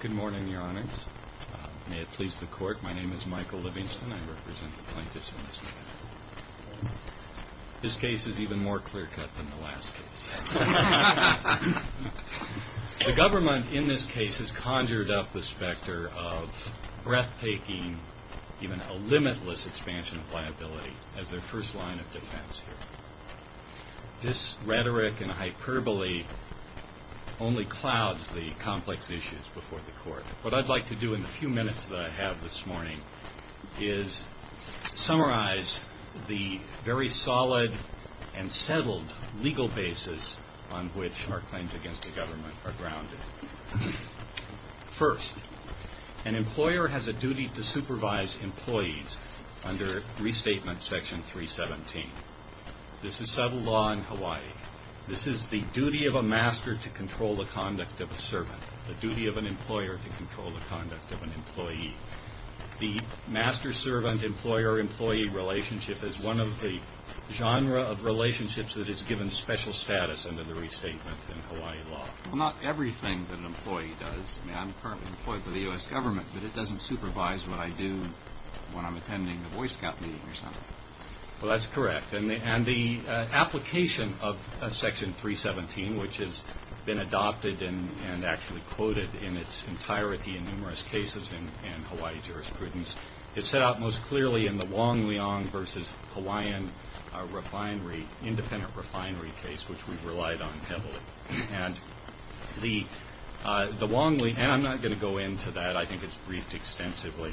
Good morning, Your Honors. May it please the Court, my name is Michael Livingston. I represent the plaintiffs in this case. This case is even more clear-cut than the last case. The government in this case has conjured up the specter of breathtaking, even a limitless expansion of liability as their first line of defense here. This rhetoric and hyperbole only clouds the complex issues before the Court. What I'd like to do in the few minutes that I have this morning is summarize the very solid and settled legal basis on which our claims against the government are grounded. First, an employer has a duty to supervise employees under Restatement Section 317. This is settled law in Hawaii. This is the duty of a master to control the conduct of a servant, the duty of an employer to control the conduct of an employee. The master-servant-employer-employee relationship is one of the genre of relationships that is given special status under the Restatement in Hawaii law. Well, not everything that an employee does. I mean, I'm currently employed for the U.S. government, but it doesn't supervise what I do when I'm attending the Boy Scout meeting or something. Well, that's correct. And the application of Section 317, which has been adopted and actually quoted in its entirety in numerous cases in Hawaii jurisprudence, is set out most clearly in the Wong Leong versus Hawaiian refinery, independent refinery case, which we've relied on heavily. And the Wong Leong, and I'm not going to go into that. I think it's briefed extensively.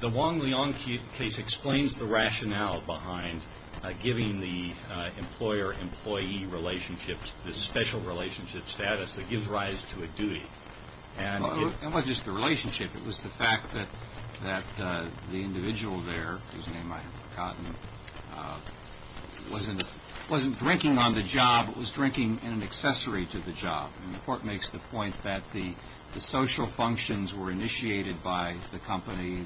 The Wong Leong case explains the rationale behind giving the employer-employee relationship this special relationship status that gives rise to a duty. Well, it wasn't just the relationship. It was the fact that the individual there, whose name I haven't forgotten, wasn't drinking on the job, but was drinking in an accessory to the job. And the Court makes the point that the social functions were initiated by the company.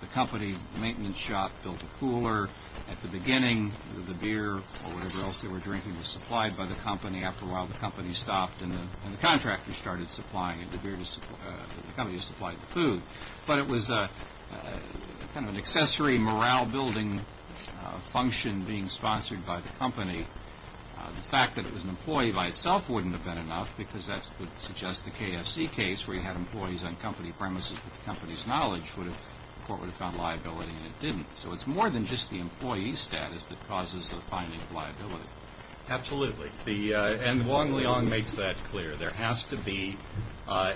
The company maintenance shop built a cooler at the beginning. The beer or whatever else they were drinking was supplied by the company. After a while, the company stopped, and the contractors started supplying it. The company supplied the food. But it was kind of an accessory morale-building function being sponsored by the company. The fact that it was an employee by itself wouldn't have been enough, because that would suggest the KFC case, where you had employees on company premises with the company's knowledge, the Court would have found liability, and it didn't. So it's more than just the employee status that causes the finding of liability. Absolutely. And Wong Leong makes that clear. There has to be a,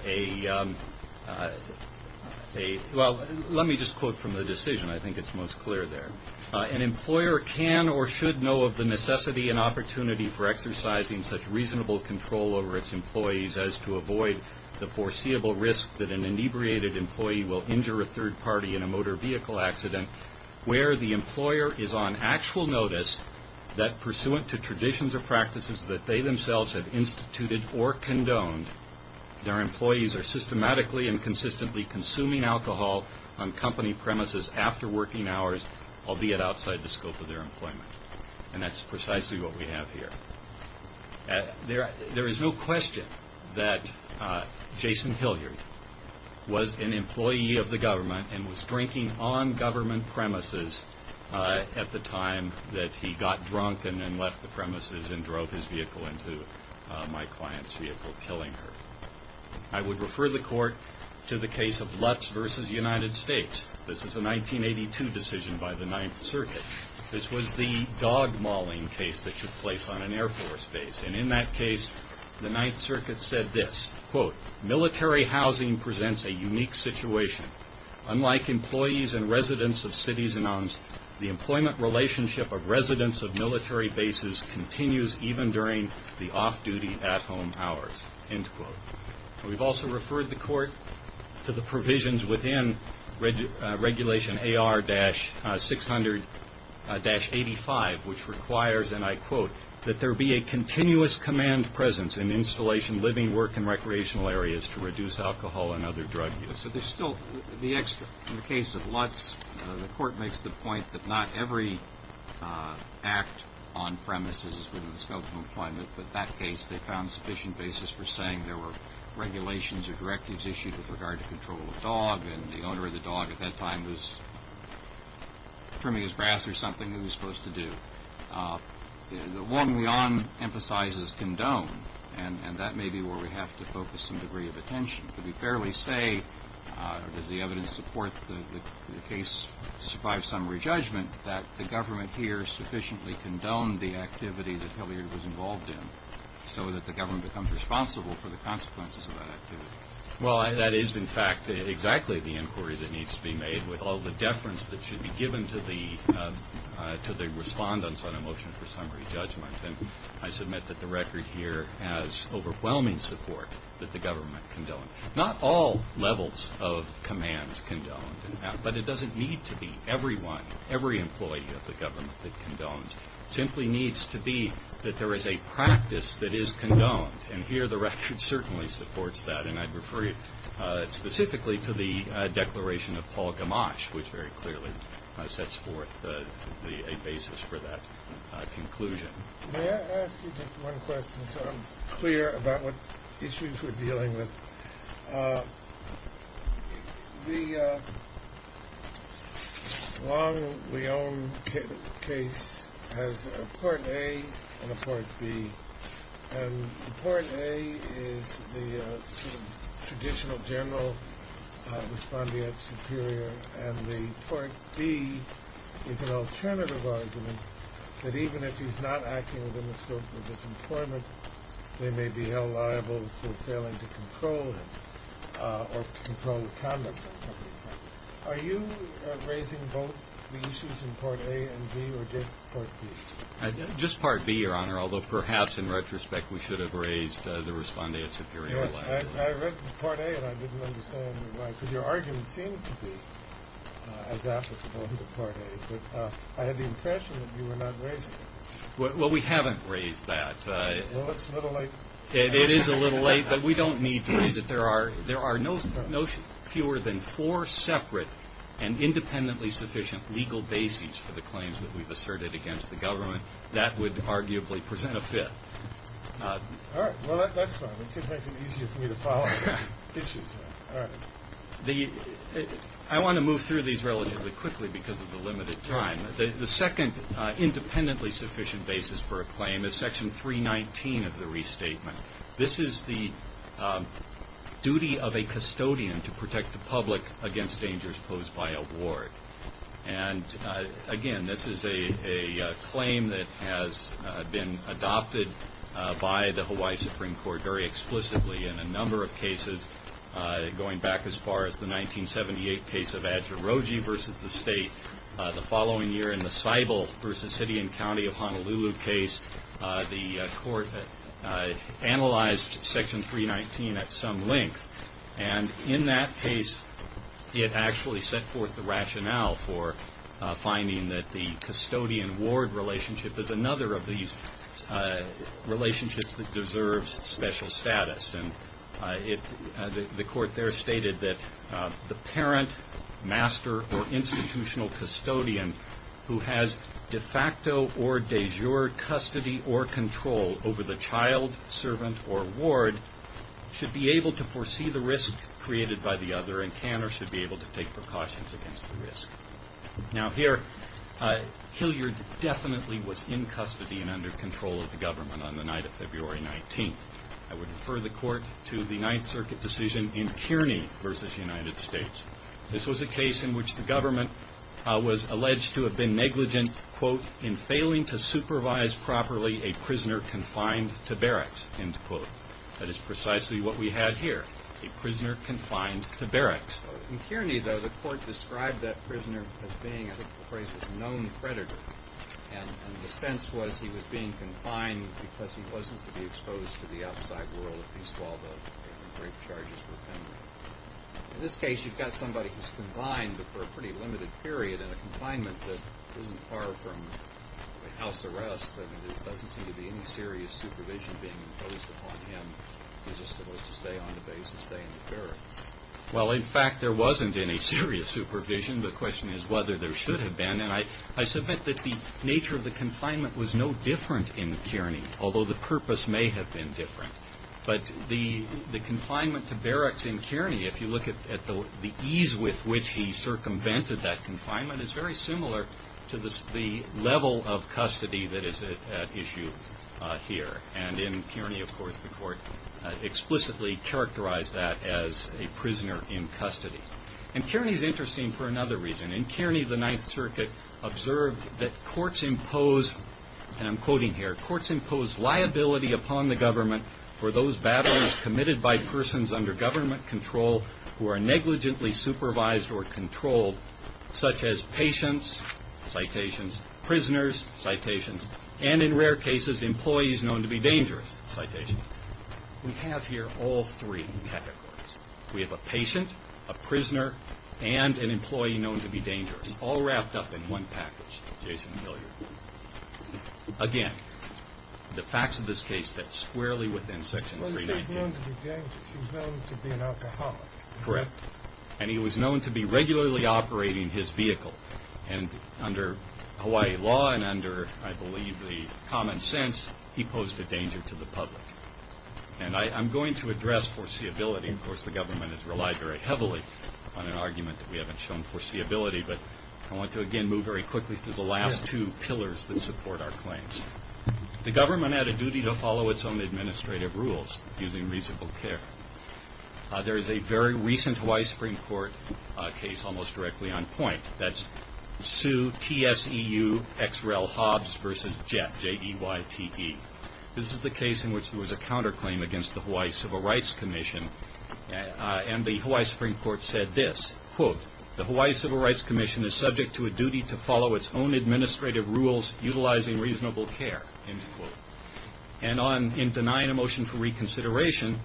well, let me just quote from the decision. I think it's most clear there. An employer can or should know of the necessity and opportunity for exercising such reasonable control over its employees as to avoid the foreseeable risk that an inebriated employee will injure a third party in a motor vehicle accident where the employer is on actual notice that pursuant to traditions or practices that they themselves have instituted or condoned, their employees are systematically and consistently consuming alcohol on company premises after working hours, albeit outside the scope of their employment. And that's precisely what we have here. There is no question that Jason Hilliard was an employee of the government and was drinking on government premises at the time that he got drunk and then left the premises and drove his vehicle into my client's vehicle, killing her. I would refer the Court to the case of Lutz v. United States. This is a 1982 decision by the Ninth Circuit. This was the dog mauling case that took place on an Air Force base. And in that case, the Ninth Circuit said this, quote, military housing presents a unique situation. Unlike employees and residents of cities and islands, the employment relationship of residents of military bases continues even during the off-duty, at-home hours, end quote. We've also referred the Court to the provisions within Regulation AR-600-85, which requires, and I quote, that there be a continuous command presence in installation, living, work and recreational areas to reduce alcohol and other drug use. So there's still the extra. In the case of Lutz, the Court makes the point that not every act on premises is within the scope of employment. But in that case, they found sufficient basis for saying there were regulations or directives issued with regard to control of dog, and the owner of the dog at that time was trimming his brass or something that he was supposed to do. The one we emphasize is condone, and that may be where we have to focus some degree of attention. Could we fairly say, does the evidence support the case to survive summary judgment, that the government here sufficiently condoned the activity that Hilliard was involved in, so that the government becomes responsible for the consequences of that activity? Well, that is, in fact, exactly the inquiry that needs to be made, with all the deference that should be given to the respondents on a motion for summary judgment. And I submit that the record here has overwhelming support that the government condoned. Not all levels of command condoned, but it doesn't need to be. Everyone, every employee of the government that condones simply needs to be that there is a practice that is condoned. And here, the record certainly supports that. And I'd refer you specifically to the declaration of Paul Gamache, which very clearly sets forth a basis for that conclusion. May I ask you just one question, so I'm clear about what issues we're dealing with? The Long-Leone case has a Port A and a Port B. And the Port A is the sort of traditional general respondeat superior, and the Port B is an alternative argument, that even if he's not acting within the scope of his employment, they may be held liable for failing to control him, or to control the conduct of the employee. Are you raising both the issues in Port A and B, or just Port B? Just Port B, Your Honor, although perhaps in retrospect we should have raised the respondeat superior. Yes, I read the Port A, and I didn't understand why, because your argument seemed to be as I had the impression that you were not raising it. Well, we haven't raised that. Well, it's a little late. It is a little late, but we don't need to raise it. There are no fewer than four separate and independently sufficient legal bases for the claims that we've asserted against the government. That would arguably present a fit. All right. Well, that's fine. That should make it easier for me to follow up on the issues. All right. I want to move through these relatively quickly because of the limited time. The second independently sufficient basis for a claim is Section 319 of the Restatement. This is the duty of a custodian to protect the public against dangers posed by a ward. And again, this is a claim that has been adopted by the Hawaii Supreme Court very explicitly in a number of cases going back as far as the 1978 case of Adjiroji versus the state. The following year in the Seibel versus Hittian County of Honolulu case, the court analyzed Section 319 at some length. And in that case, it actually set forth the rationale for finding that the custodian-ward relationship is another of these relationships that deserves special status. And the court there stated that the parent, master, or institutional custodian who has de facto or de jure custody or control over the child, servant, or ward should be able to foresee the risk created by the other and can or should be able to take precautions against the risk. Now, here, Hilliard definitely was in custody and under control of the government on the night of February 19th. I would refer the court to the Ninth Circuit decision in Kearney versus the United States. This was a case in which the government was alleged to have been negligent, quote, in failing to supervise properly a prisoner confined to barracks, end quote. That is precisely what we had here, a prisoner confined to barracks. In Kearney, though, the court described that prisoner as being, I think the phrase was known predator. And the sense was he was being confined because he wasn't to be exposed to the outside world at least while the rape charges were pending. In this case, you've got somebody who's confined but for a pretty limited period in a confinement that isn't far from a house arrest. I mean, there doesn't seem to be any serious supervision being imposed upon him. He's just supposed to stay on the base and stay in the barracks. Well, in fact, there wasn't any serious supervision. The question is whether there should have been. And I submit that the nature of the confinement was no different in Kearney, although the purpose may have been different. But the confinement to barracks in Kearney, if you look at the ease with which he circumvented that confinement, is very similar to the level of custody that is at issue here. And in Kearney, of course, the court explicitly characterized that as a prisoner in custody. And Kearney is interesting for another reason. In Kearney, the Ninth Circuit observed that courts impose, and I'm quoting here, courts impose liability upon the government for those battles committed by persons under government control who are negligently supervised or controlled, such as patients, citations, prisoners, citations, and in rare cases, employees known to be dangerous, citations. We have here all three categories. We have a patient, a prisoner, and an employee known to be dangerous, all wrapped up in one package, Jason Hilliard. Again, the facts of this case fit squarely within Section 319. Well, he's known to be dangerous. He's known to be an alcoholic. Correct. And he was known to be regularly operating his vehicle. And under Hawaii law and under, I believe, the common sense, he posed a danger to the public. And I'm going to address foreseeability. Of course, the government has relied very heavily on an argument that we haven't shown foreseeability. But I want to, again, move very quickly through the last two pillars that support our claims. The government had a duty to follow its own administrative rules using reasonable care. There is a very recent Hawaii Supreme Court case almost directly on point. That's Sue, T-S-E-U, X-Rel Hobbs v. Jett, J-E-Y-T-E. This is the case in which there was a counterclaim against the Hawaii Civil Rights Commission. And the Hawaii Supreme Court said this, quote, the Hawaii Civil Rights Commission is subject to a duty to follow its own administrative rules utilizing reasonable care, end quote. And in denying a motion for reconsideration,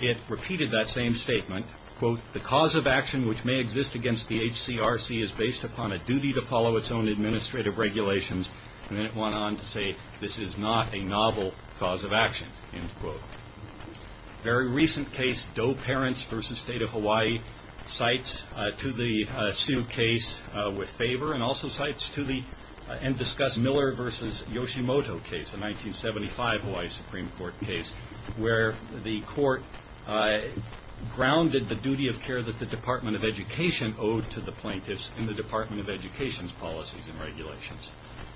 it repeated that same statement, quote, the cause of action which may exist against the HCRC is based upon a duty to follow its own administrative regulations. And then it went on to say this is not a novel cause of action, end quote. Very recent case, Doe Parents v. State of Hawaii, cites to the Sue case with favor and also cites to the and discussed Miller v. Yoshimoto case, a 1975 Hawaii Supreme Court case, where the court grounded the duty of care that the Department of Education owed to the plaintiffs in the Department of Education's policies and regulations.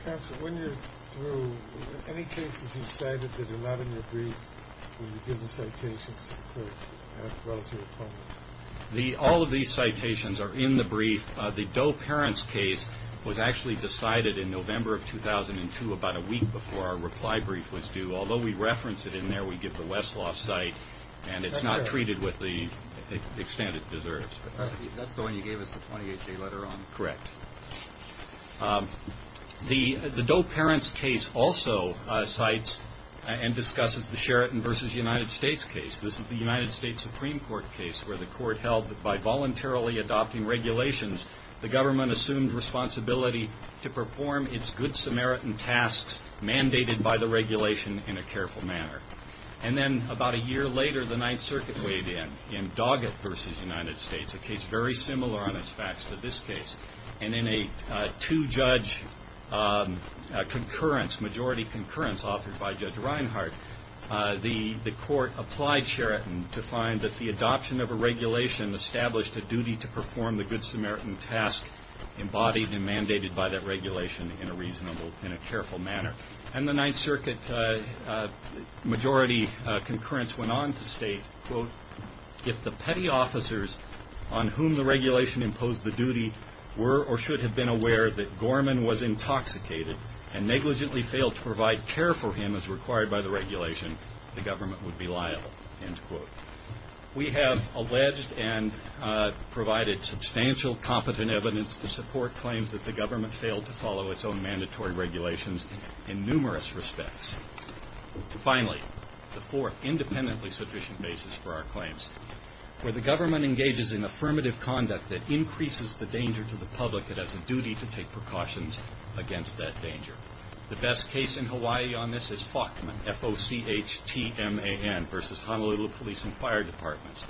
Counsel, when you're through, any cases you've cited that are not in your brief, will you give the citations to the court as well as your opponent? All of these citations are in the brief. The Doe Parents case was actually decided in November of 2002, about a week before our reply brief was due. Although we reference it in there, we give the Westlaw site, and it's not treated with the extent it deserves. That's the one you gave us the 28-day letter on? Correct. The Doe Parents case also cites and discusses the Sheraton v. United States case. This is the United States Supreme Court case where the court held that by voluntarily adopting regulations, the government assumed responsibility to perform its good Samaritan tasks mandated by the regulation in a careful manner. And then about a year later, the Ninth Circuit weighed in, in Doggett v. United States, a case very similar on its facts to this case. And in a two-judge concurrence, majority concurrence authored by Judge Reinhart, the court applied Sheraton to find that the adoption of a regulation established a duty to perform the good Samaritan task embodied and mandated by that regulation in a reasonable, in a careful manner. And the Ninth Circuit majority concurrence went on to state, quote, if the petty officers on whom the regulation imposed the duty were or should have been aware that Gorman was intoxicated and negligently failed to provide care for him as required by the regulation, the government would be liable, end quote. We have alleged and provided substantial competent evidence to support claims that the government failed to follow its own mandatory regulations in numerous respects. Finally, the fourth independently sufficient basis for our claims, where the government engages in affirmative conduct that increases the danger to the public that has a duty to take precautions against that danger. The best case in Hawaii on this is Faulkman, F-O-C-H-T-M-A-N, versus Honolulu Police and Fire Departments.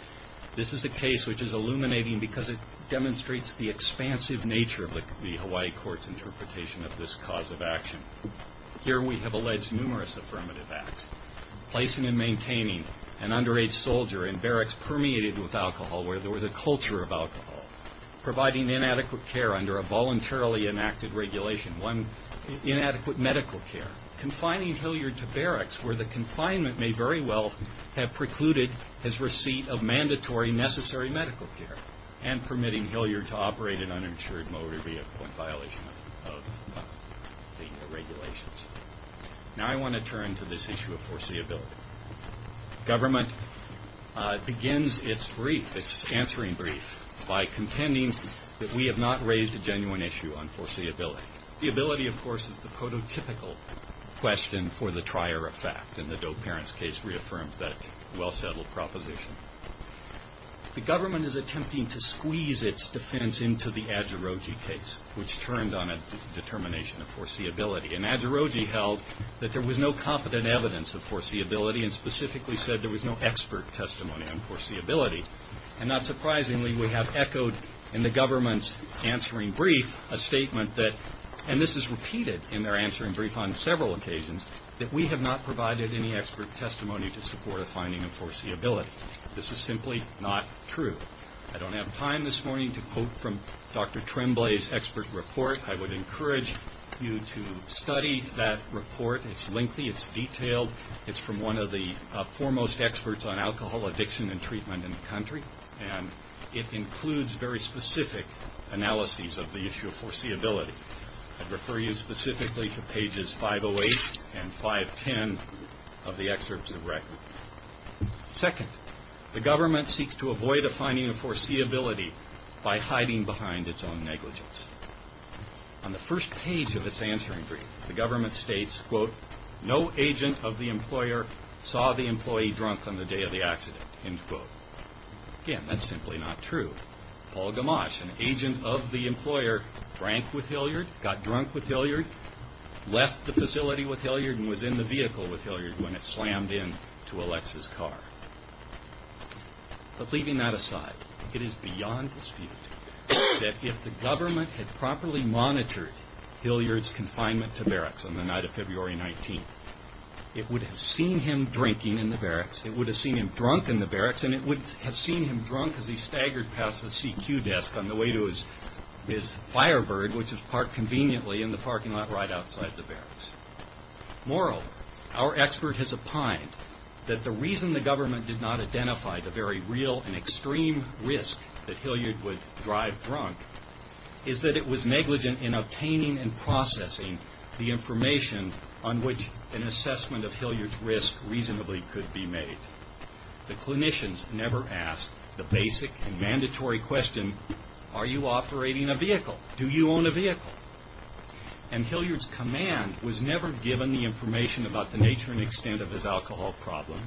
This is a case which is illuminating because it demonstrates the expansive nature of the Hawaii court's interpretation of this cause of action. Here we have alleged numerous affirmative acts. Placing and maintaining an underage soldier in barracks permeated with alcohol, where there was a culture of alcohol. Providing inadequate care under a voluntarily enacted regulation. Inadequate medical care. Confining Hilliard to barracks where the confinement may very well have precluded his receipt of mandatory necessary medical care. And permitting Hilliard to operate an uninsured motor vehicle in violation of the regulations. Now I want to turn to this issue of foreseeability. Government begins its brief, its answering brief, by contending that we have not raised a genuine issue on foreseeability. The ability, of course, is the prototypical question for the trier of fact. And the Doe-Parents case reaffirms that well-settled proposition. The government is attempting to squeeze its defense into the Adjuroji case, which turned on a determination of foreseeability. And Adjuroji held that there was no competent evidence of foreseeability and specifically said there was no expert testimony on foreseeability. And not surprisingly, we have echoed in the government's answering brief a statement that, and this is repeated in their answering brief on several occasions, that we have not provided any expert testimony to support a finding of foreseeability. This is simply not true. I don't have time this morning to quote from Dr. Tremblay's expert report. I would encourage you to study that report. It's lengthy. It's detailed. It's from one of the foremost experts on alcohol addiction and treatment in the country. And it includes very specific analyses of the issue of foreseeability. I'd refer you specifically to pages 508 and 510 of the excerpts of the record. Second, the government seeks to avoid a finding of foreseeability by hiding behind its own negligence. On the first page of its answering brief, the government states, quote, no agent of the employer saw the employee drunk on the day of the accident, end quote. Again, that's simply not true. Paul Gamache, an agent of the employer, drank with Hilliard, got drunk with Hilliard, left the facility with Hilliard and was in the vehicle with Hilliard when it slammed into Alex's car. But leaving that aside, it is beyond dispute that if the government had properly monitored Hilliard's confinement to barracks on the night of February 19th, it would have seen him drinking in the barracks, it would have seen him drunk in the barracks, and it would have seen him drunk as he staggered past the CQ desk on the way to his Firebird, which is parked conveniently in the parking lot right outside the barracks. Moral, our expert has opined that the reason the government did not identify the very real and extreme risk that Hilliard would drive drunk is that it was negligent in obtaining and processing the information on which an assessment of Hilliard's risk reasonably could be made. The clinicians never asked the basic and mandatory question, are you operating a vehicle? Do you own a vehicle? And Hilliard's command was never given the information about the nature and extent of his alcohol problem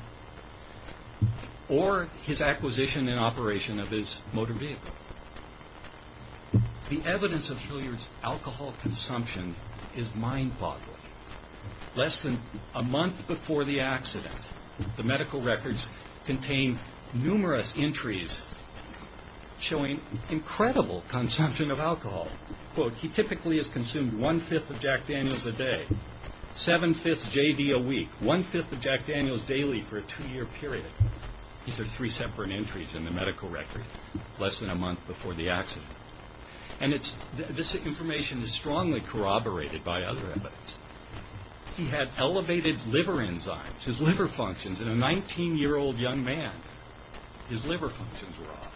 or his acquisition and operation of his motor vehicle. The evidence of Hilliard's alcohol consumption is mind-boggling. Less than a month before the accident, the medical records contain numerous entries showing incredible consumption of alcohol. Quote, he typically has consumed one-fifth of Jack Daniels a day, seven-fifths J.D. a week, one-fifth of Jack Daniels daily for a two-year period. These are three separate entries in the medical record less than a month before the accident. And this information is strongly corroborated by other evidence. He had elevated liver enzymes. His liver functions in a 19-year-old young man, his liver functions were off.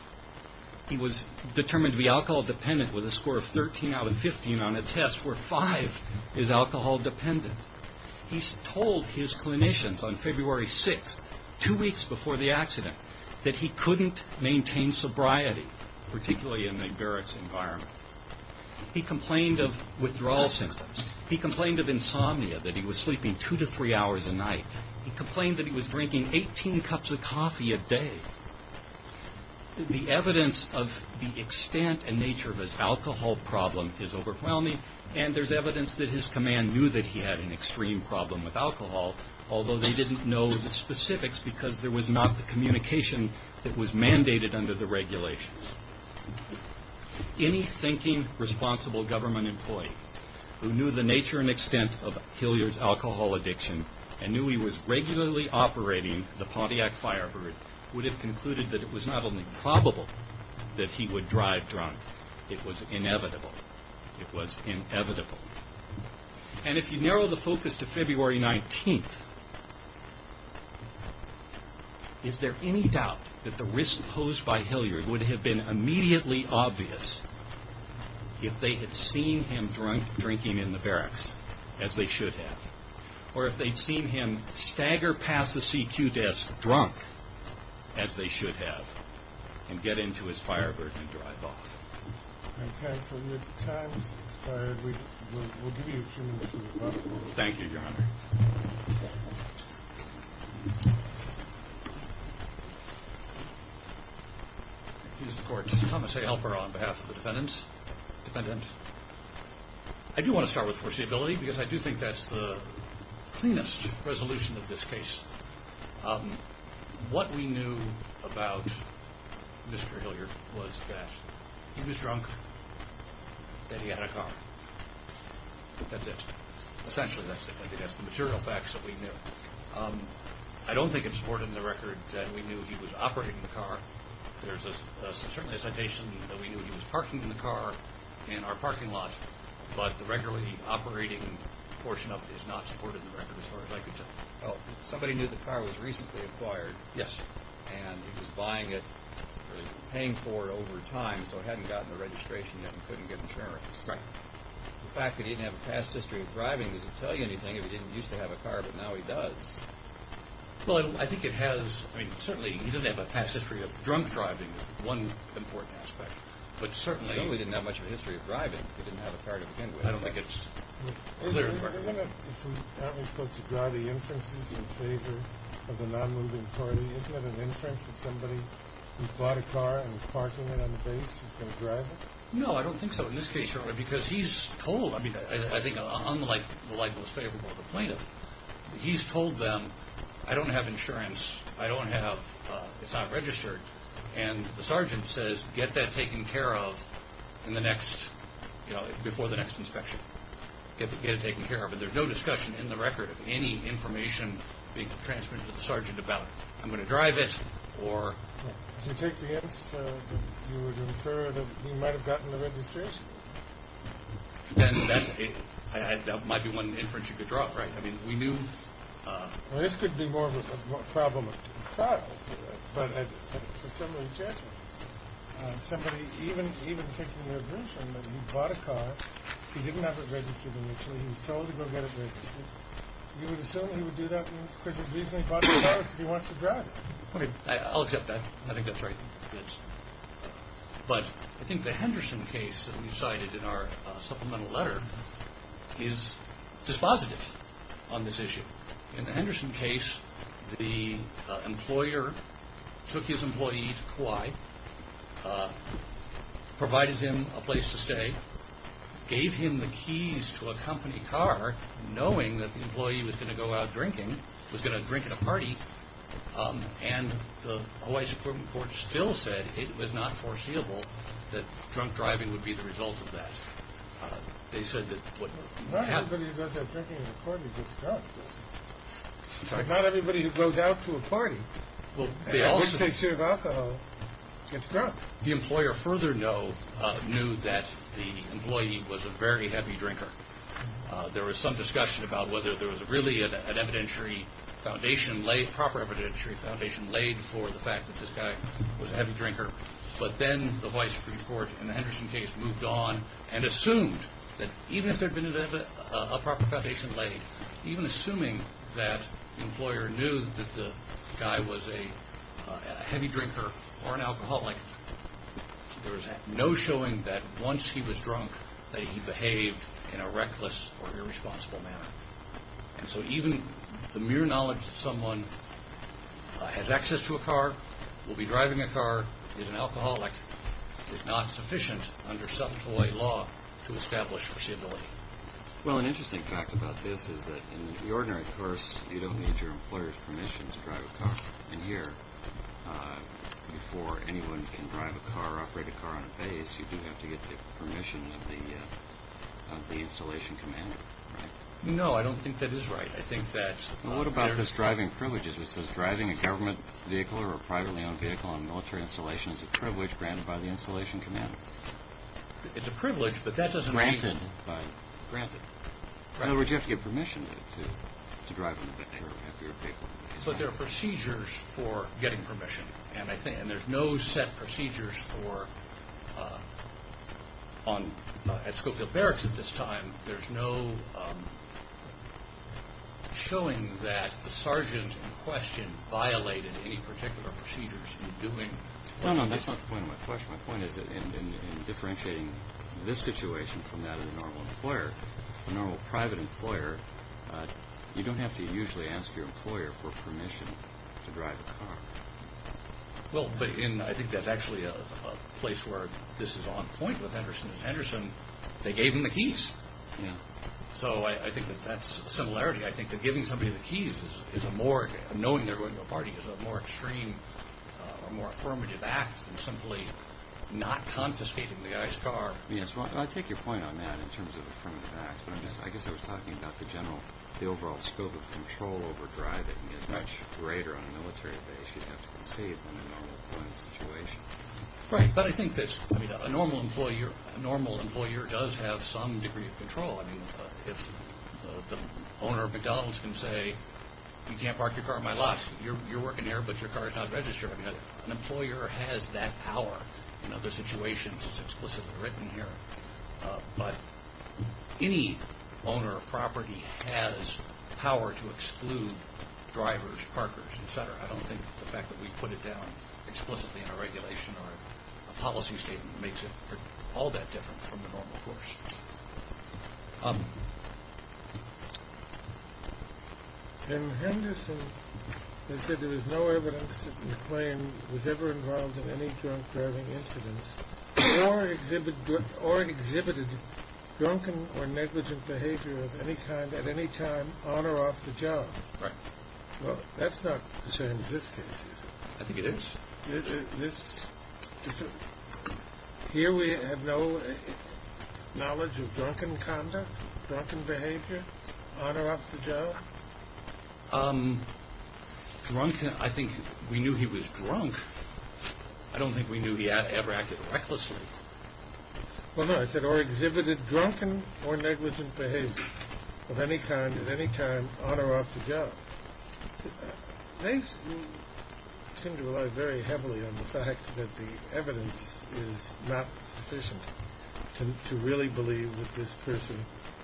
He was determined to be alcohol dependent with a score of 13 out of 15 on a test where five is alcohol dependent. He told his clinicians on February 6th, two weeks before the accident, that he couldn't maintain sobriety, particularly in a barracks environment. He complained of withdrawal symptoms. He complained of insomnia, that he was sleeping two to three hours a night. He complained that he was drinking 18 cups of coffee a day. The evidence of the extent and nature of his alcohol problem is overwhelming, and there's evidence that his command knew that he had an extreme problem with alcohol, although they didn't know the specifics because there was not the communication that was mandated under the regulations. Any thinking, responsible government employee who knew the nature and extent of Hilliard's alcohol addiction and knew he was regularly operating the Pontiac Firebird would have concluded that it was not only probable that he would drive drunk, it was inevitable. It was inevitable. And if you narrow the focus to February 19th, is there any doubt that the risk posed by Hilliard would have been immediately obvious if they had seen him drunk drinking in the barracks, as they should have, or if they'd seen him stagger past the CQ desk drunk, as they should have, and get into his Firebird and drive off? Okay, so your time has expired. We'll give you a few minutes to wrap up. Thank you, Your Honor. Thank you, Your Honor. Excuse the Court. Thomas A. Helper on behalf of the defendants. I do want to start with foreseeability because I do think that's the cleanest resolution of this case. What we knew about Mr. Hilliard was that he was drunk, that he had a car. That's it. That's the material facts that we knew. I don't think it's supported in the record that we knew he was operating the car. There's certainly a citation that we knew he was parking the car in our parking lot, but the regularly operating portion of it is not supported in the record, as far as I can tell. Somebody knew the car was recently acquired. Yes, sir. And he was buying it or paying for it over time, so he hadn't gotten the registration yet and couldn't get insurance. Right. The fact that he didn't have a past history of driving doesn't tell you anything. He didn't used to have a car, but now he does. Well, I think it has. I mean, certainly he doesn't have a past history of drunk driving is one important aspect. But certainly— He certainly didn't have much of a history of driving. He didn't have a car to begin with. I don't think it's clear in the record. Aren't we supposed to draw the inferences in favor of the non-moving party? Isn't it an inference that somebody who bought a car and was parking it on the base was going to drive it? No, I don't think so in this case, Your Honor, because he's told—I mean, I think unlike the libelous favorable of the plaintiff, he's told them, I don't have insurance. I don't have—it's not registered. And the sergeant says, get that taken care of in the next—before the next inspection. Get it taken care of. And there's no discussion in the record of any information being transmitted to the sergeant about, I'm going to drive it or— Do you take the answer that you would infer that he might have gotten the registration? Then that might be one inference you could draw, right? I mean, we knew— Well, this could be more of a problem with the car. But for some of the judgment, somebody even taking the admission that he bought a car, he didn't have it registered initially. He was told to go get it registered. You would assume he would do that because he bought the car because he wants to drive it. I'll accept that. I think that's right. But I think the Henderson case that we cited in our supplemental letter is dispositive on this issue. In the Henderson case, the employer took his employee to Kauai, provided him a place to stay, gave him the keys to a company car, knowing that the employee was going to go out drinking, was going to drink at a party, and the Hawaii Supreme Court still said it was not foreseeable that drunk driving would be the result of that. They said that— Not everybody who goes out drinking at a party gets drunk. Not everybody who goes out to a party— Well, they also— —and drinks their share of alcohol gets drunk. The employer further knew that the employee was a very heavy drinker. There was some discussion about whether there was really an evidentiary foundation laid, proper evidentiary foundation laid for the fact that this guy was a heavy drinker. But then the Hawaii Supreme Court in the Henderson case moved on and assumed that even if there had been a proper foundation laid, even assuming that the employer knew that the guy was a heavy drinker or an alcoholic, there was no showing that once he was drunk that he behaved in a reckless or irresponsible manner. And so even the mere knowledge that someone has access to a car, will be driving a car, is an alcoholic, is not sufficient under self-employed law to establish foreseeability. Well, an interesting fact about this is that in the ordinary course, you don't need your employer's permission to drive a car. And here, before anyone can drive a car or operate a car on a base, you do have to get the permission of the installation commander, right? No, I don't think that is right. I think that's— Well, what about this driving privileges? It says driving a government vehicle or a privately owned vehicle on a military installation is a privilege granted by the installation commander. It's a privilege, but that doesn't mean— Granted by—granted. In other words, you have to get permission to drive on a military vehicle. But there are procedures for getting permission. And I think—and there's no set procedures for—at Schofield Barracks at this time, there's no showing that the sergeant in question violated any particular procedures in doing— No, no, that's not the point of my question. My point is that in differentiating this situation from that of the normal employer, the normal private employer, you don't have to usually ask your employer for permission to drive a car. Well, but—and I think that's actually a place where this is on point with Henderson & Henderson. They gave him the keys. Yeah. So I think that that's a similarity. I think that giving somebody the keys is a more— knowing they're going to a party is a more extreme or more affirmative act than simply not confiscating the guy's car. Yes, well, I take your point on that in terms of affirmative acts, but I guess I was talking about the general—the overall scope of control over driving is much greater on a military base, you'd have to concede, than in a normal employment situation. Right, but I think that's—I mean, a normal employer does have some degree of control. I mean, if the owner of McDonald's can say, you can't park your car at my lot, you're working here, but your car is not registered. I mean, an employer has that power in other situations. It's explicitly written here. But any owner of property has power to exclude drivers, parkers, et cetera. I don't think the fact that we put it down explicitly in a regulation or a policy statement makes it all that different from the normal course. In Henderson, they said there was no evidence that McLean was ever involved in any drunk driving incidents or exhibited drunken or negligent behavior of any kind at any time on or off the job. Right. Well, that's not the same as this case, is it? I think it is. This—here we have no knowledge of drunken conduct, drunken behavior on or off the job? Drunken—I think we knew he was drunk. I don't think we knew he ever acted recklessly. Well, no, it said, or exhibited drunken or negligent behavior of any kind at any time on or off the job. They seem to rely very heavily on the fact that the evidence is not sufficient to really believe that this person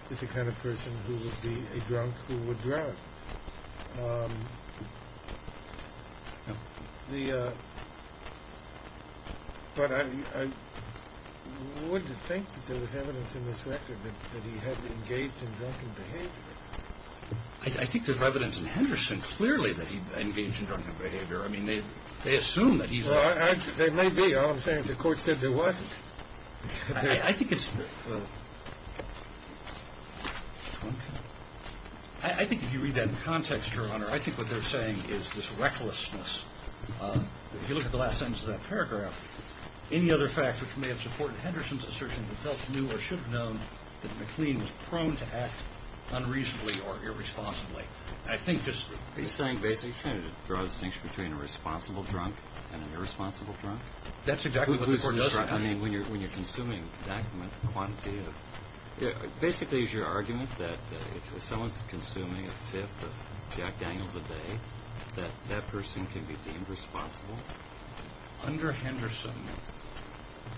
is the kind of person who would be a drunk who would drive. But I would think that there was evidence in this record that he had engaged in drunken behavior. I think there's evidence in Henderson clearly that he engaged in drunken behavior. I mean, they assume that he's— Well, there may be. All I'm saying is the Court said there wasn't. I think it's—I think if you read that in context, Your Honor, I think what they're saying is this recklessness. If you look at the last sentence of that paragraph, any other fact which may have supported Henderson's assertion that felt new or should have known that McLean was prone to act unreasonably or irresponsibly, I think this— Are you saying basically you're trying to draw a distinction between a responsible drunk and an irresponsible drunk? That's exactly what the Court does. I mean, when you're consuming a document, the quantity of— basically is your argument that if someone's consuming a fifth of Jack Daniels a day, that that person can be deemed responsible? Under Henderson,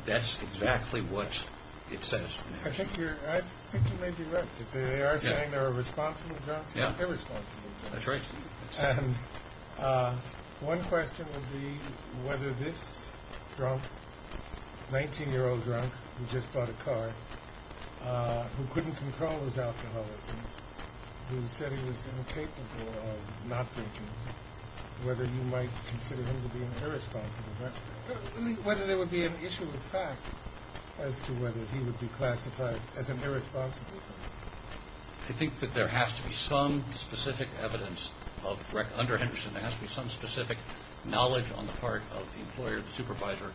that's exactly what it says. I think you're—I think you may be right. They are saying there are responsible drunks and irresponsible drunks. That's right. And one question would be whether this drunk, 19-year-old drunk who just bought a car, who couldn't control his alcoholism, who said he was incapable of not drinking, whether you might consider him to be an irresponsible drunk? Whether there would be an issue of fact as to whether he would be classified as an irresponsible drunk. I think that there has to be some specific evidence of— under Henderson, there has to be some specific knowledge on the part of the employer, the supervisor,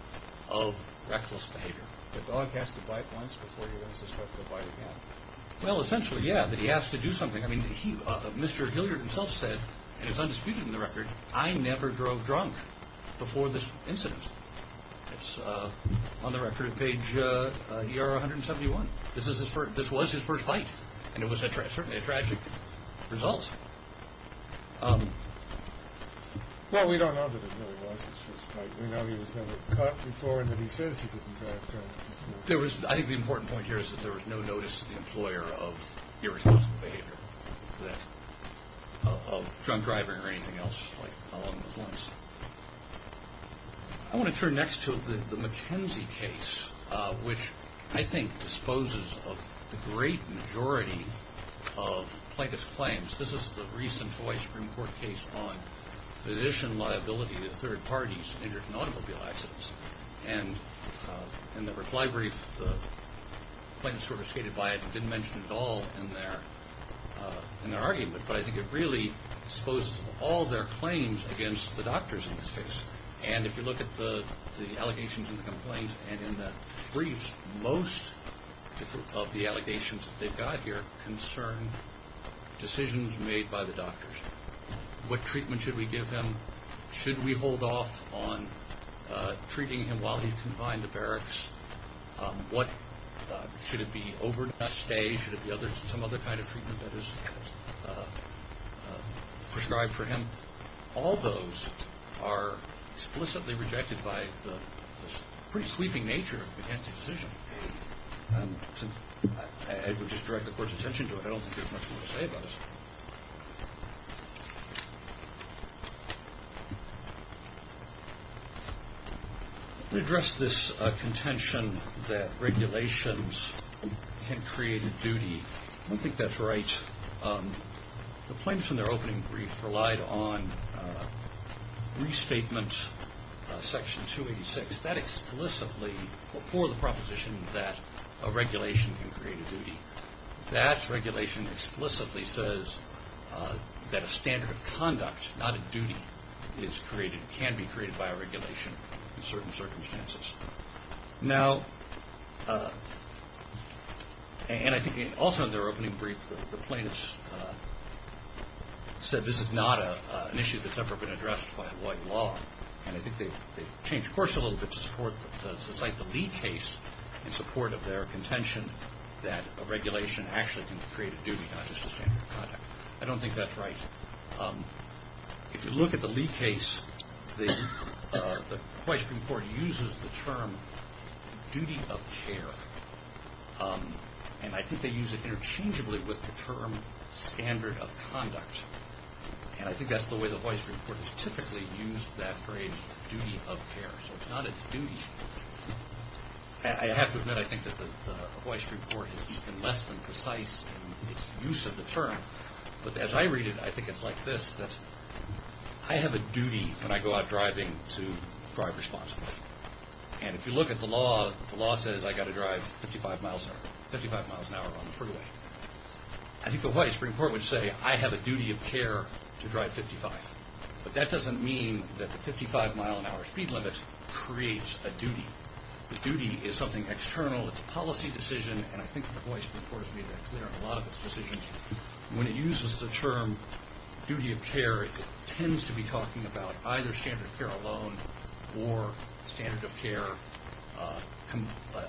of reckless behavior. The dog has to bite once before you're going to suspect he'll bite again. Well, essentially, yeah, that he has to do something. I mean, Mr. Hilliard himself said, and it's undisputed in the record, I never drove drunk before this incident. It's on the record at page ER 171. This was his first fight, and it was certainly a tragic result. Well, we don't know that it really was his first fight. We know he was never caught before and that he says he didn't drive drunk before. I think the important point here is that there was no notice to the employer of irresponsible behavior, of drunk driving or anything else along those lines. I want to turn next to the McKenzie case, which I think disposes of the great majority of plaintiff's claims. This is the recent Hawaii Supreme Court case on physician liability to third parties injured in automobile accidents. And in the reply brief, the plaintiffs sort of skated by it and didn't mention it at all in their argument, but I think it really disposes of all their claims against the doctors in this case. And if you look at the allegations and the complaints and in the briefs, most of the allegations that they've got here concern decisions made by the doctors. What treatment should we give them? Should we hold off on treating him while he's confined to barracks? Should it be overnight stay? Should it be some other kind of treatment that is prescribed for him? All those are explicitly rejected by the pretty sweeping nature of the McKenzie decision. I would just direct the Court's attention to it. I don't think there's much more to say about it. To address this contention that regulations can create a duty, I don't think that's right. The plaintiffs in their opening brief relied on restatement section 286. It's that explicitly for the proposition that a regulation can create a duty. That regulation explicitly says that a standard of conduct, not a duty, can be created by a regulation in certain circumstances. And I think also in their opening brief the plaintiffs said this is not an issue that's ever been addressed by white law. And I think they changed course a little bit to cite the Lee case in support of their contention that a regulation actually can create a duty, not just a standard of conduct. I don't think that's right. If you look at the Lee case, the Hwaii Supreme Court uses the term duty of care. And I think they use it interchangeably with the term standard of conduct. And I think that's the way the Hwaii Supreme Court has typically used that phrase, duty of care. So it's not a duty. I have to admit I think that the Hwaii Supreme Court is less than precise in its use of the term. But as I read it, I think it's like this. I have a duty when I go out driving to drive responsibly. And if you look at the law, the law says I've got to drive 55 miles an hour on the freeway. I think the Hwaii Supreme Court would say I have a duty of care to drive 55. But that doesn't mean that the 55-mile-an-hour speed limit creates a duty. The duty is something external. It's a policy decision. And I think the Hwaii Supreme Court has made that clear in a lot of its decisions. When it uses the term duty of care, it tends to be talking about either standard of care alone or standard of care,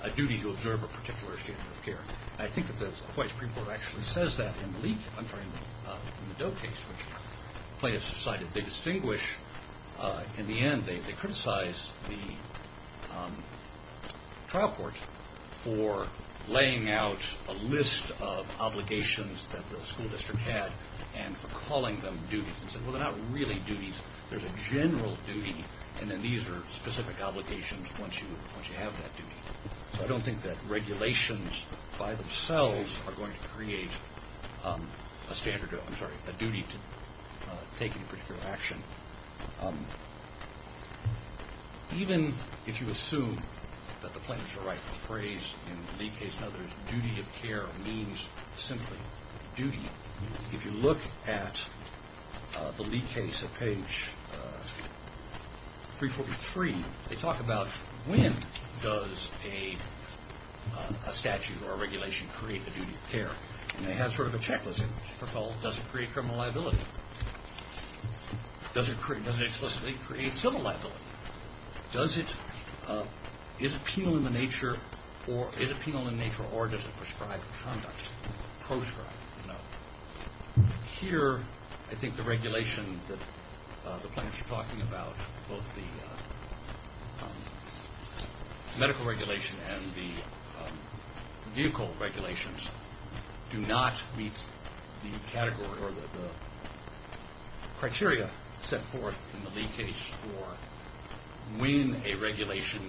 a duty to observe a particular standard of care. And I think that the Hwaii Supreme Court actually says that in the Doe case, which plaintiffs decided they distinguish. In the end, they criticized the trial court for laying out a list of obligations that the school district had and for calling them duties and said, well, they're not really duties. There's a general duty, and then these are specific obligations once you have that duty. So I don't think that regulations by themselves are going to create a standard, I'm sorry, a duty to take any particular action. Even if you assume that the plaintiffs are right in the phrase in the Lee case, in other words, duty of care means simply duty. If you look at the Lee case at page 343, they talk about when does a statute or a regulation create a duty of care. And they have sort of a checklist. First of all, does it create criminal liability? Does it explicitly create civil liability? Is it penal in nature or does it prescribe conduct, proscribe? No. Here, I think the regulation that the plaintiffs are talking about, both the medical regulation and the vehicle regulations, do not meet the criteria set forth in the Lee case for when a regulation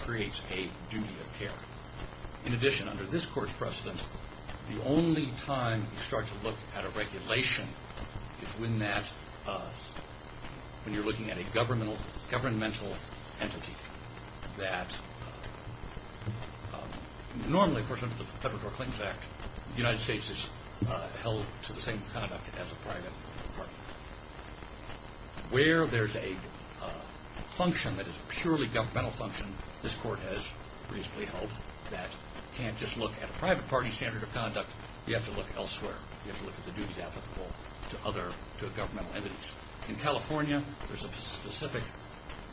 creates a duty of care. In addition, under this court's precedent, the only time you start to look at a regulation is when that, when you're looking at a governmental entity that normally, of course, under the Federal Court Claims Act, the United States is held to the same conduct as a private party. Where there's a function that is a purely governmental function, this court has reasonably held that you can't just look at a private party standard of conduct. You have to look elsewhere. You have to look at the duties applicable to other governmental entities. In California, there's a specific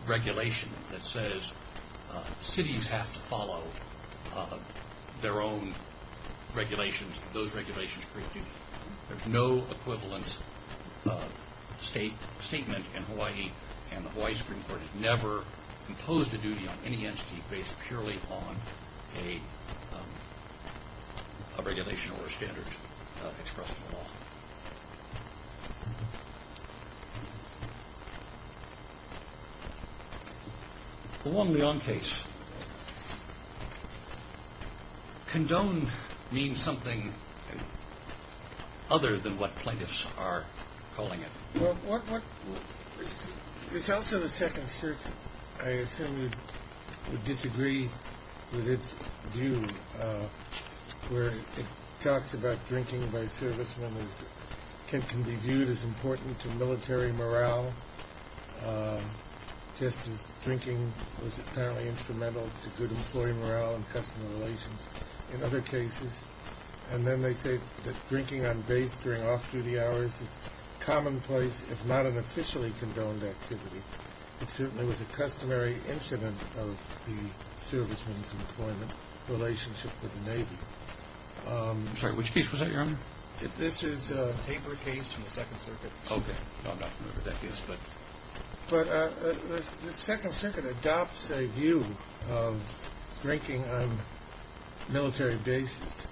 regulation that says cities have to follow their own regulations. Those regulations create duty. There's no equivalent statement in Hawaii, and the Hawaii Supreme Court has never imposed a duty on any entity based purely on a regulation or a standard expressed in the law. The Wong-Leon case. Condoned means something other than what plaintiffs are calling it. Well, it's also the second circuit. I assume you would disagree with its view where it talks about drinking by servicemen can be viewed as important to military morale, just as drinking was apparently instrumental to good employee morale and customer relations in other cases. And then they say that drinking on base during off-duty hours is commonplace, if not an officially condoned activity. It certainly was a customary incident of the servicemen's employment relationship with the Navy. Sorry, which case was that, Your Honor? This is a paper case from the second circuit. Okay. I'm not familiar with that case, but. But the second circuit adopts a view of drinking on military bases,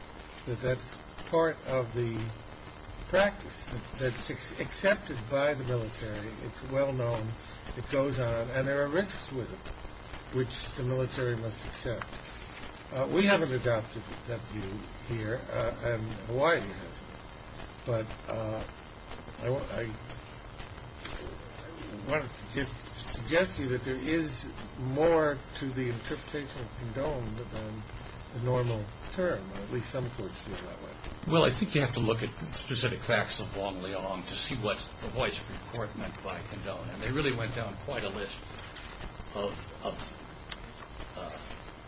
it goes on, and there are risks with it, which the military must accept. We haven't adopted that view here, and Hawaii hasn't. But I want to suggest to you that there is more to the interpretation of condoned than the normal term, or at least some courts view it that way. Well, I think you have to look at the specific facts of Wong Leong to see what the Hawaii Supreme Court meant by condoned, and they really went down quite a list of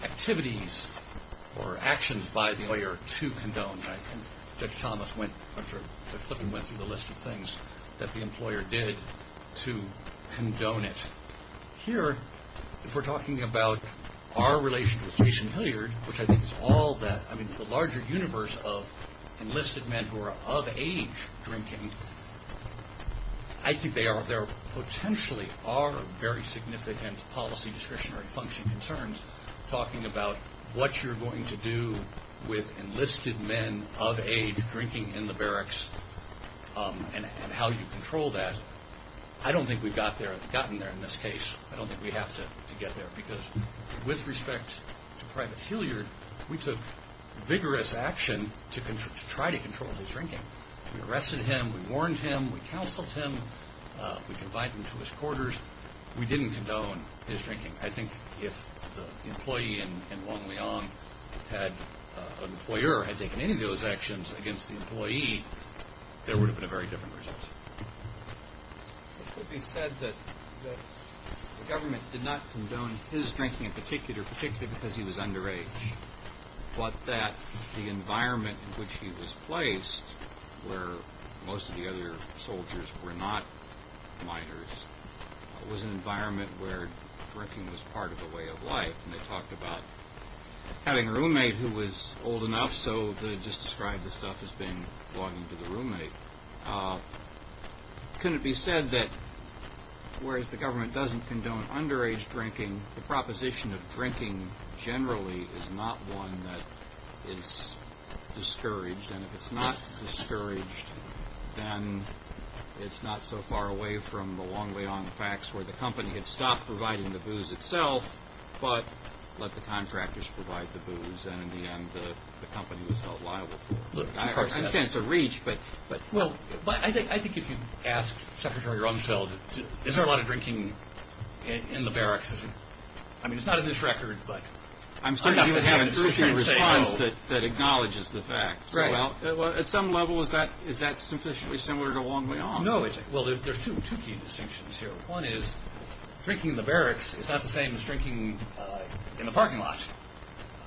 activities or actions by the lawyer to condone. Judge Thomas went through a list of things that the employer did to condone it. Here, if we're talking about our relationship with Jason Hilliard, which I think is all that, I mean, the larger universe of enlisted men who are of age drinking, I think there potentially are very significant policy discretionary function concerns talking about what you're going to do with enlisted men of age drinking in the barracks and how you control that. I don't think we've gotten there in this case. I don't think we have to get there, because with respect to Private Hilliard, we took vigorous action to try to control his drinking. We arrested him. We warned him. We counseled him. We confined him to his quarters. We didn't condone his drinking. I think if the employee in Wong Leong, an employer, had taken any of those actions against the employee, there would have been a very different result. It could be said that the government did not condone his drinking in particular, particularly because he was underage, but that the environment in which he was placed, where most of the other soldiers were not minors, was an environment where drinking was part of the way of life. And they talked about having a roommate who was old enough, so they just described the stuff as being logging to the roommate. Couldn't it be said that whereas the government doesn't condone underage drinking, the proposition of drinking generally is not one that is discouraged, and if it's not discouraged, then it's not so far away from the Wong Leong facts where the company had stopped providing the booze itself, but let the contractors provide the booze, and in the end the company was held liable for it. I understand it's a reach, but... Well, I think if you ask Secretary Rumsfeld, is there a lot of drinking in the barracks? I mean, it's not in this record, but... I'm certain he would have a terrifying response that acknowledges the fact. Right. Well, at some level, is that sufficiently similar to Wong Leong? No. Well, there's two key distinctions here. One is drinking in the barracks is not the same as drinking in the parking lot.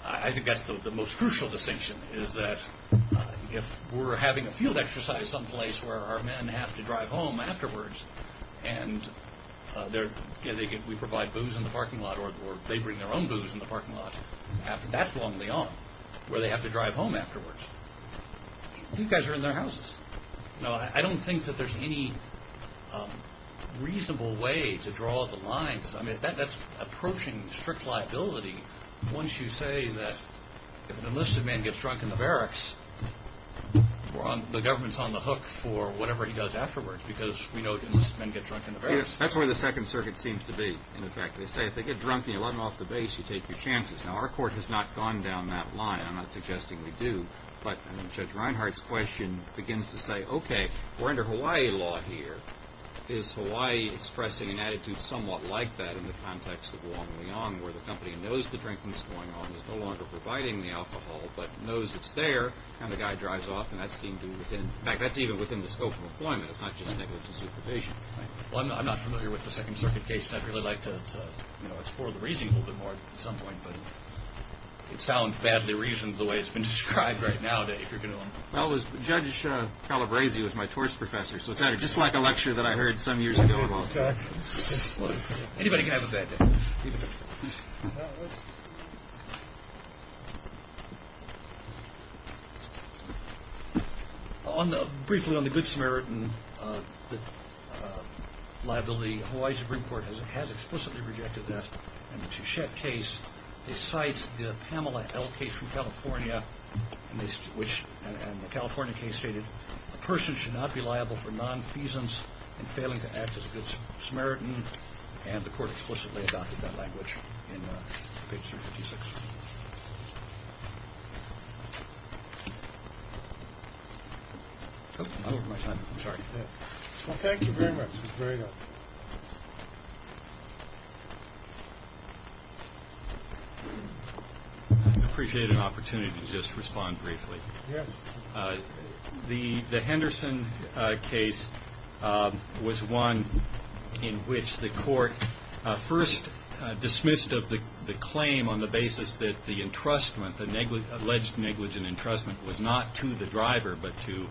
I think that's the most crucial distinction, is that if we're having a field exercise someplace where our men have to drive home afterwards and we provide booze in the parking lot or they bring their own booze in the parking lot, that's Wong Leong, where they have to drive home afterwards. These guys are in their houses. I don't think that there's any reasonable way to draw the line. I mean, that's approaching strict liability once you say that if an enlisted man gets drunk in the barracks, the government's on the hook for whatever he does afterwards because we know enlisted men get drunk in the barracks. That's where the Second Circuit seems to be, in effect. They say if they get drunk and you let them off the base, you take your chances. Now, our court has not gone down that line. I'm not suggesting we do, but Judge Reinhart's question begins to say, okay, we're under Hawaii law here. Is Hawaii expressing an attitude somewhat like that in the context of Wong Leong, where the company knows the drinking's going on, is no longer providing the alcohol, but knows it's there, and the guy drives off, and that's being viewed within – in fact, that's even within the scope of employment. It's not just negligence of probation. Well, I'm not familiar with the Second Circuit case, and I'd really like to explore the reasoning a little bit more at some point, but it sounds badly reasoned the way it's been described right now if you're going to – Well, Judge Calabresi was my torts professor, so it sounded just like a lecture that I heard some years ago. Anybody have a bad day? Briefly, on the Good Samaritan liability, Hawaii's Supreme Court has explicitly rejected that. In the Chichette case, they cite the Pamela L. case from California, and they – which – and the California case stated, a person should not be liable for nonfeasance in failing to act as a Good Samaritan, and the court explicitly adopted that language in page 356. Well, thank you very much. I appreciate an opportunity to just respond briefly. The Henderson case was one in which the court first dismissed the claim on the basis that the entrustment, the alleged negligent entrustment, was not to the driver, but to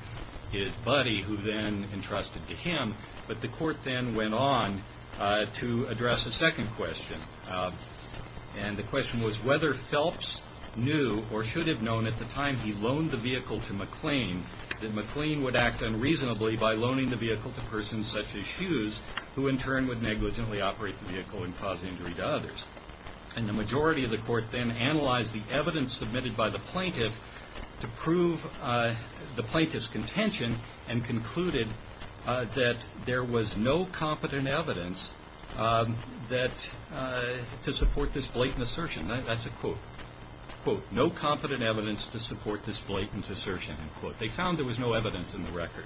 his buddy, who then entrusted to him. But the court then went on to address a second question, and the question was whether Phelps knew or should have known at the time he loaned the vehicle to McLean that McLean would act unreasonably by loaning the vehicle to persons such as Hughes, who in turn would negligently operate the vehicle and cause injury to others. And the majority of the court then analyzed the evidence submitted by the plaintiff to prove the plaintiff's contention and concluded that there was no competent evidence that – to support this blatant assertion. That's a quote. Quote, no competent evidence to support this blatant assertion. End quote. They found there was no evidence in the record.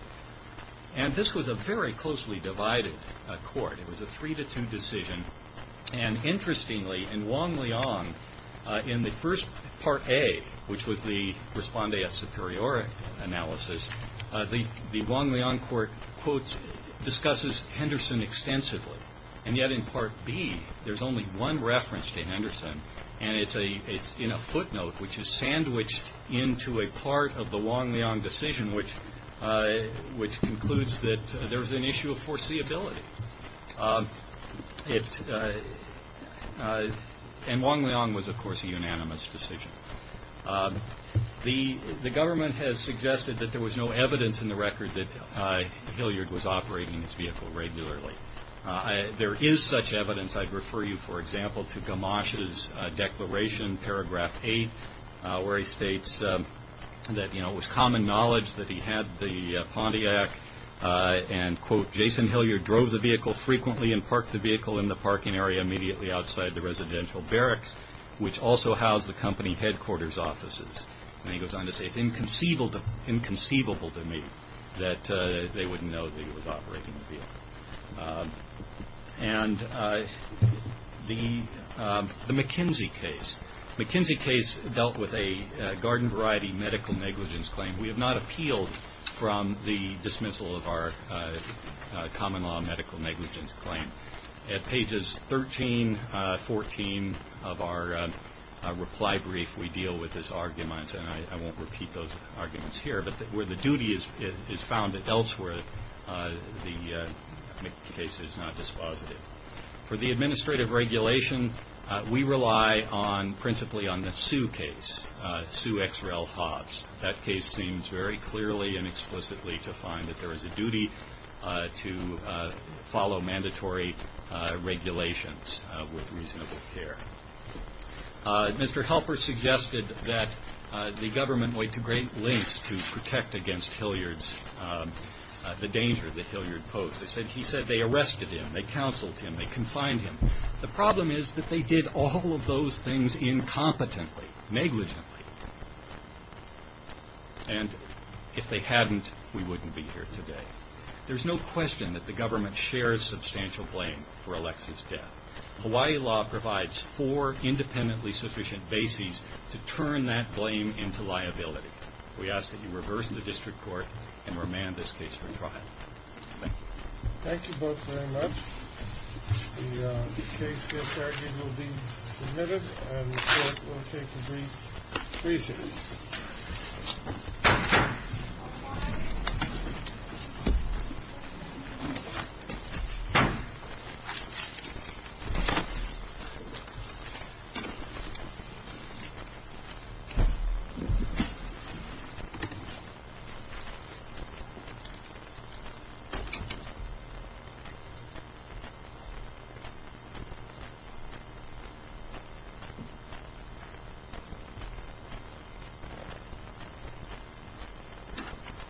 And this was a very closely divided court. It was a three-to-two decision. And interestingly, in Wong-Leong, in the first Part A, which was the respondeat superior analysis, the Wong-Leong court, quote, discusses Henderson extensively. And yet in Part B, there's only one reference to Henderson, and it's in a footnote which is sandwiched into a part of the Wong-Leong decision, which concludes that there's an issue of foreseeability. And Wong-Leong was, of course, a unanimous decision. The government has suggested that there was no evidence in the record that Hilliard was operating his vehicle regularly. There is such evidence. I'd refer you, for example, to Gamache's declaration, Paragraph 8, where he states that, you know, it was common knowledge that he had the Pontiac. And, quote, Jason Hilliard drove the vehicle frequently and parked the vehicle in the parking area immediately outside the residential barracks, which also housed the company headquarters offices. And he goes on to say, it's inconceivable to me that they wouldn't know that he was operating the vehicle. And the McKinsey case. The McKinsey case dealt with a garden variety medical negligence claim. We have not appealed from the dismissal of our common law medical negligence claim. At pages 13, 14 of our reply brief, we deal with this argument. And I won't repeat those arguments here. But where the duty is found elsewhere, the case is not dispositive. For the administrative regulation, we rely principally on the Sue case, Sue X. Rel. Hobbs. That case seems very clearly and explicitly to find that there is a duty to follow mandatory regulations with reasonable care. Mr. Helper suggested that the government went to great lengths to protect against Hilliard's the danger that Hilliard posed. He said they arrested him. They counseled him. They confined him. The problem is that they did all of those things incompetently, negligently. And if they hadn't, we wouldn't be here today. There's no question that the government shares substantial blame for Alexis' death. Hawaii law provides four independently sufficient bases to turn that blame into liability. We ask that you reverse the district court and remand this case for trial. Thank you. Thank you both very much. The case case argument will be submitted and the court will take a brief recess. Thank you.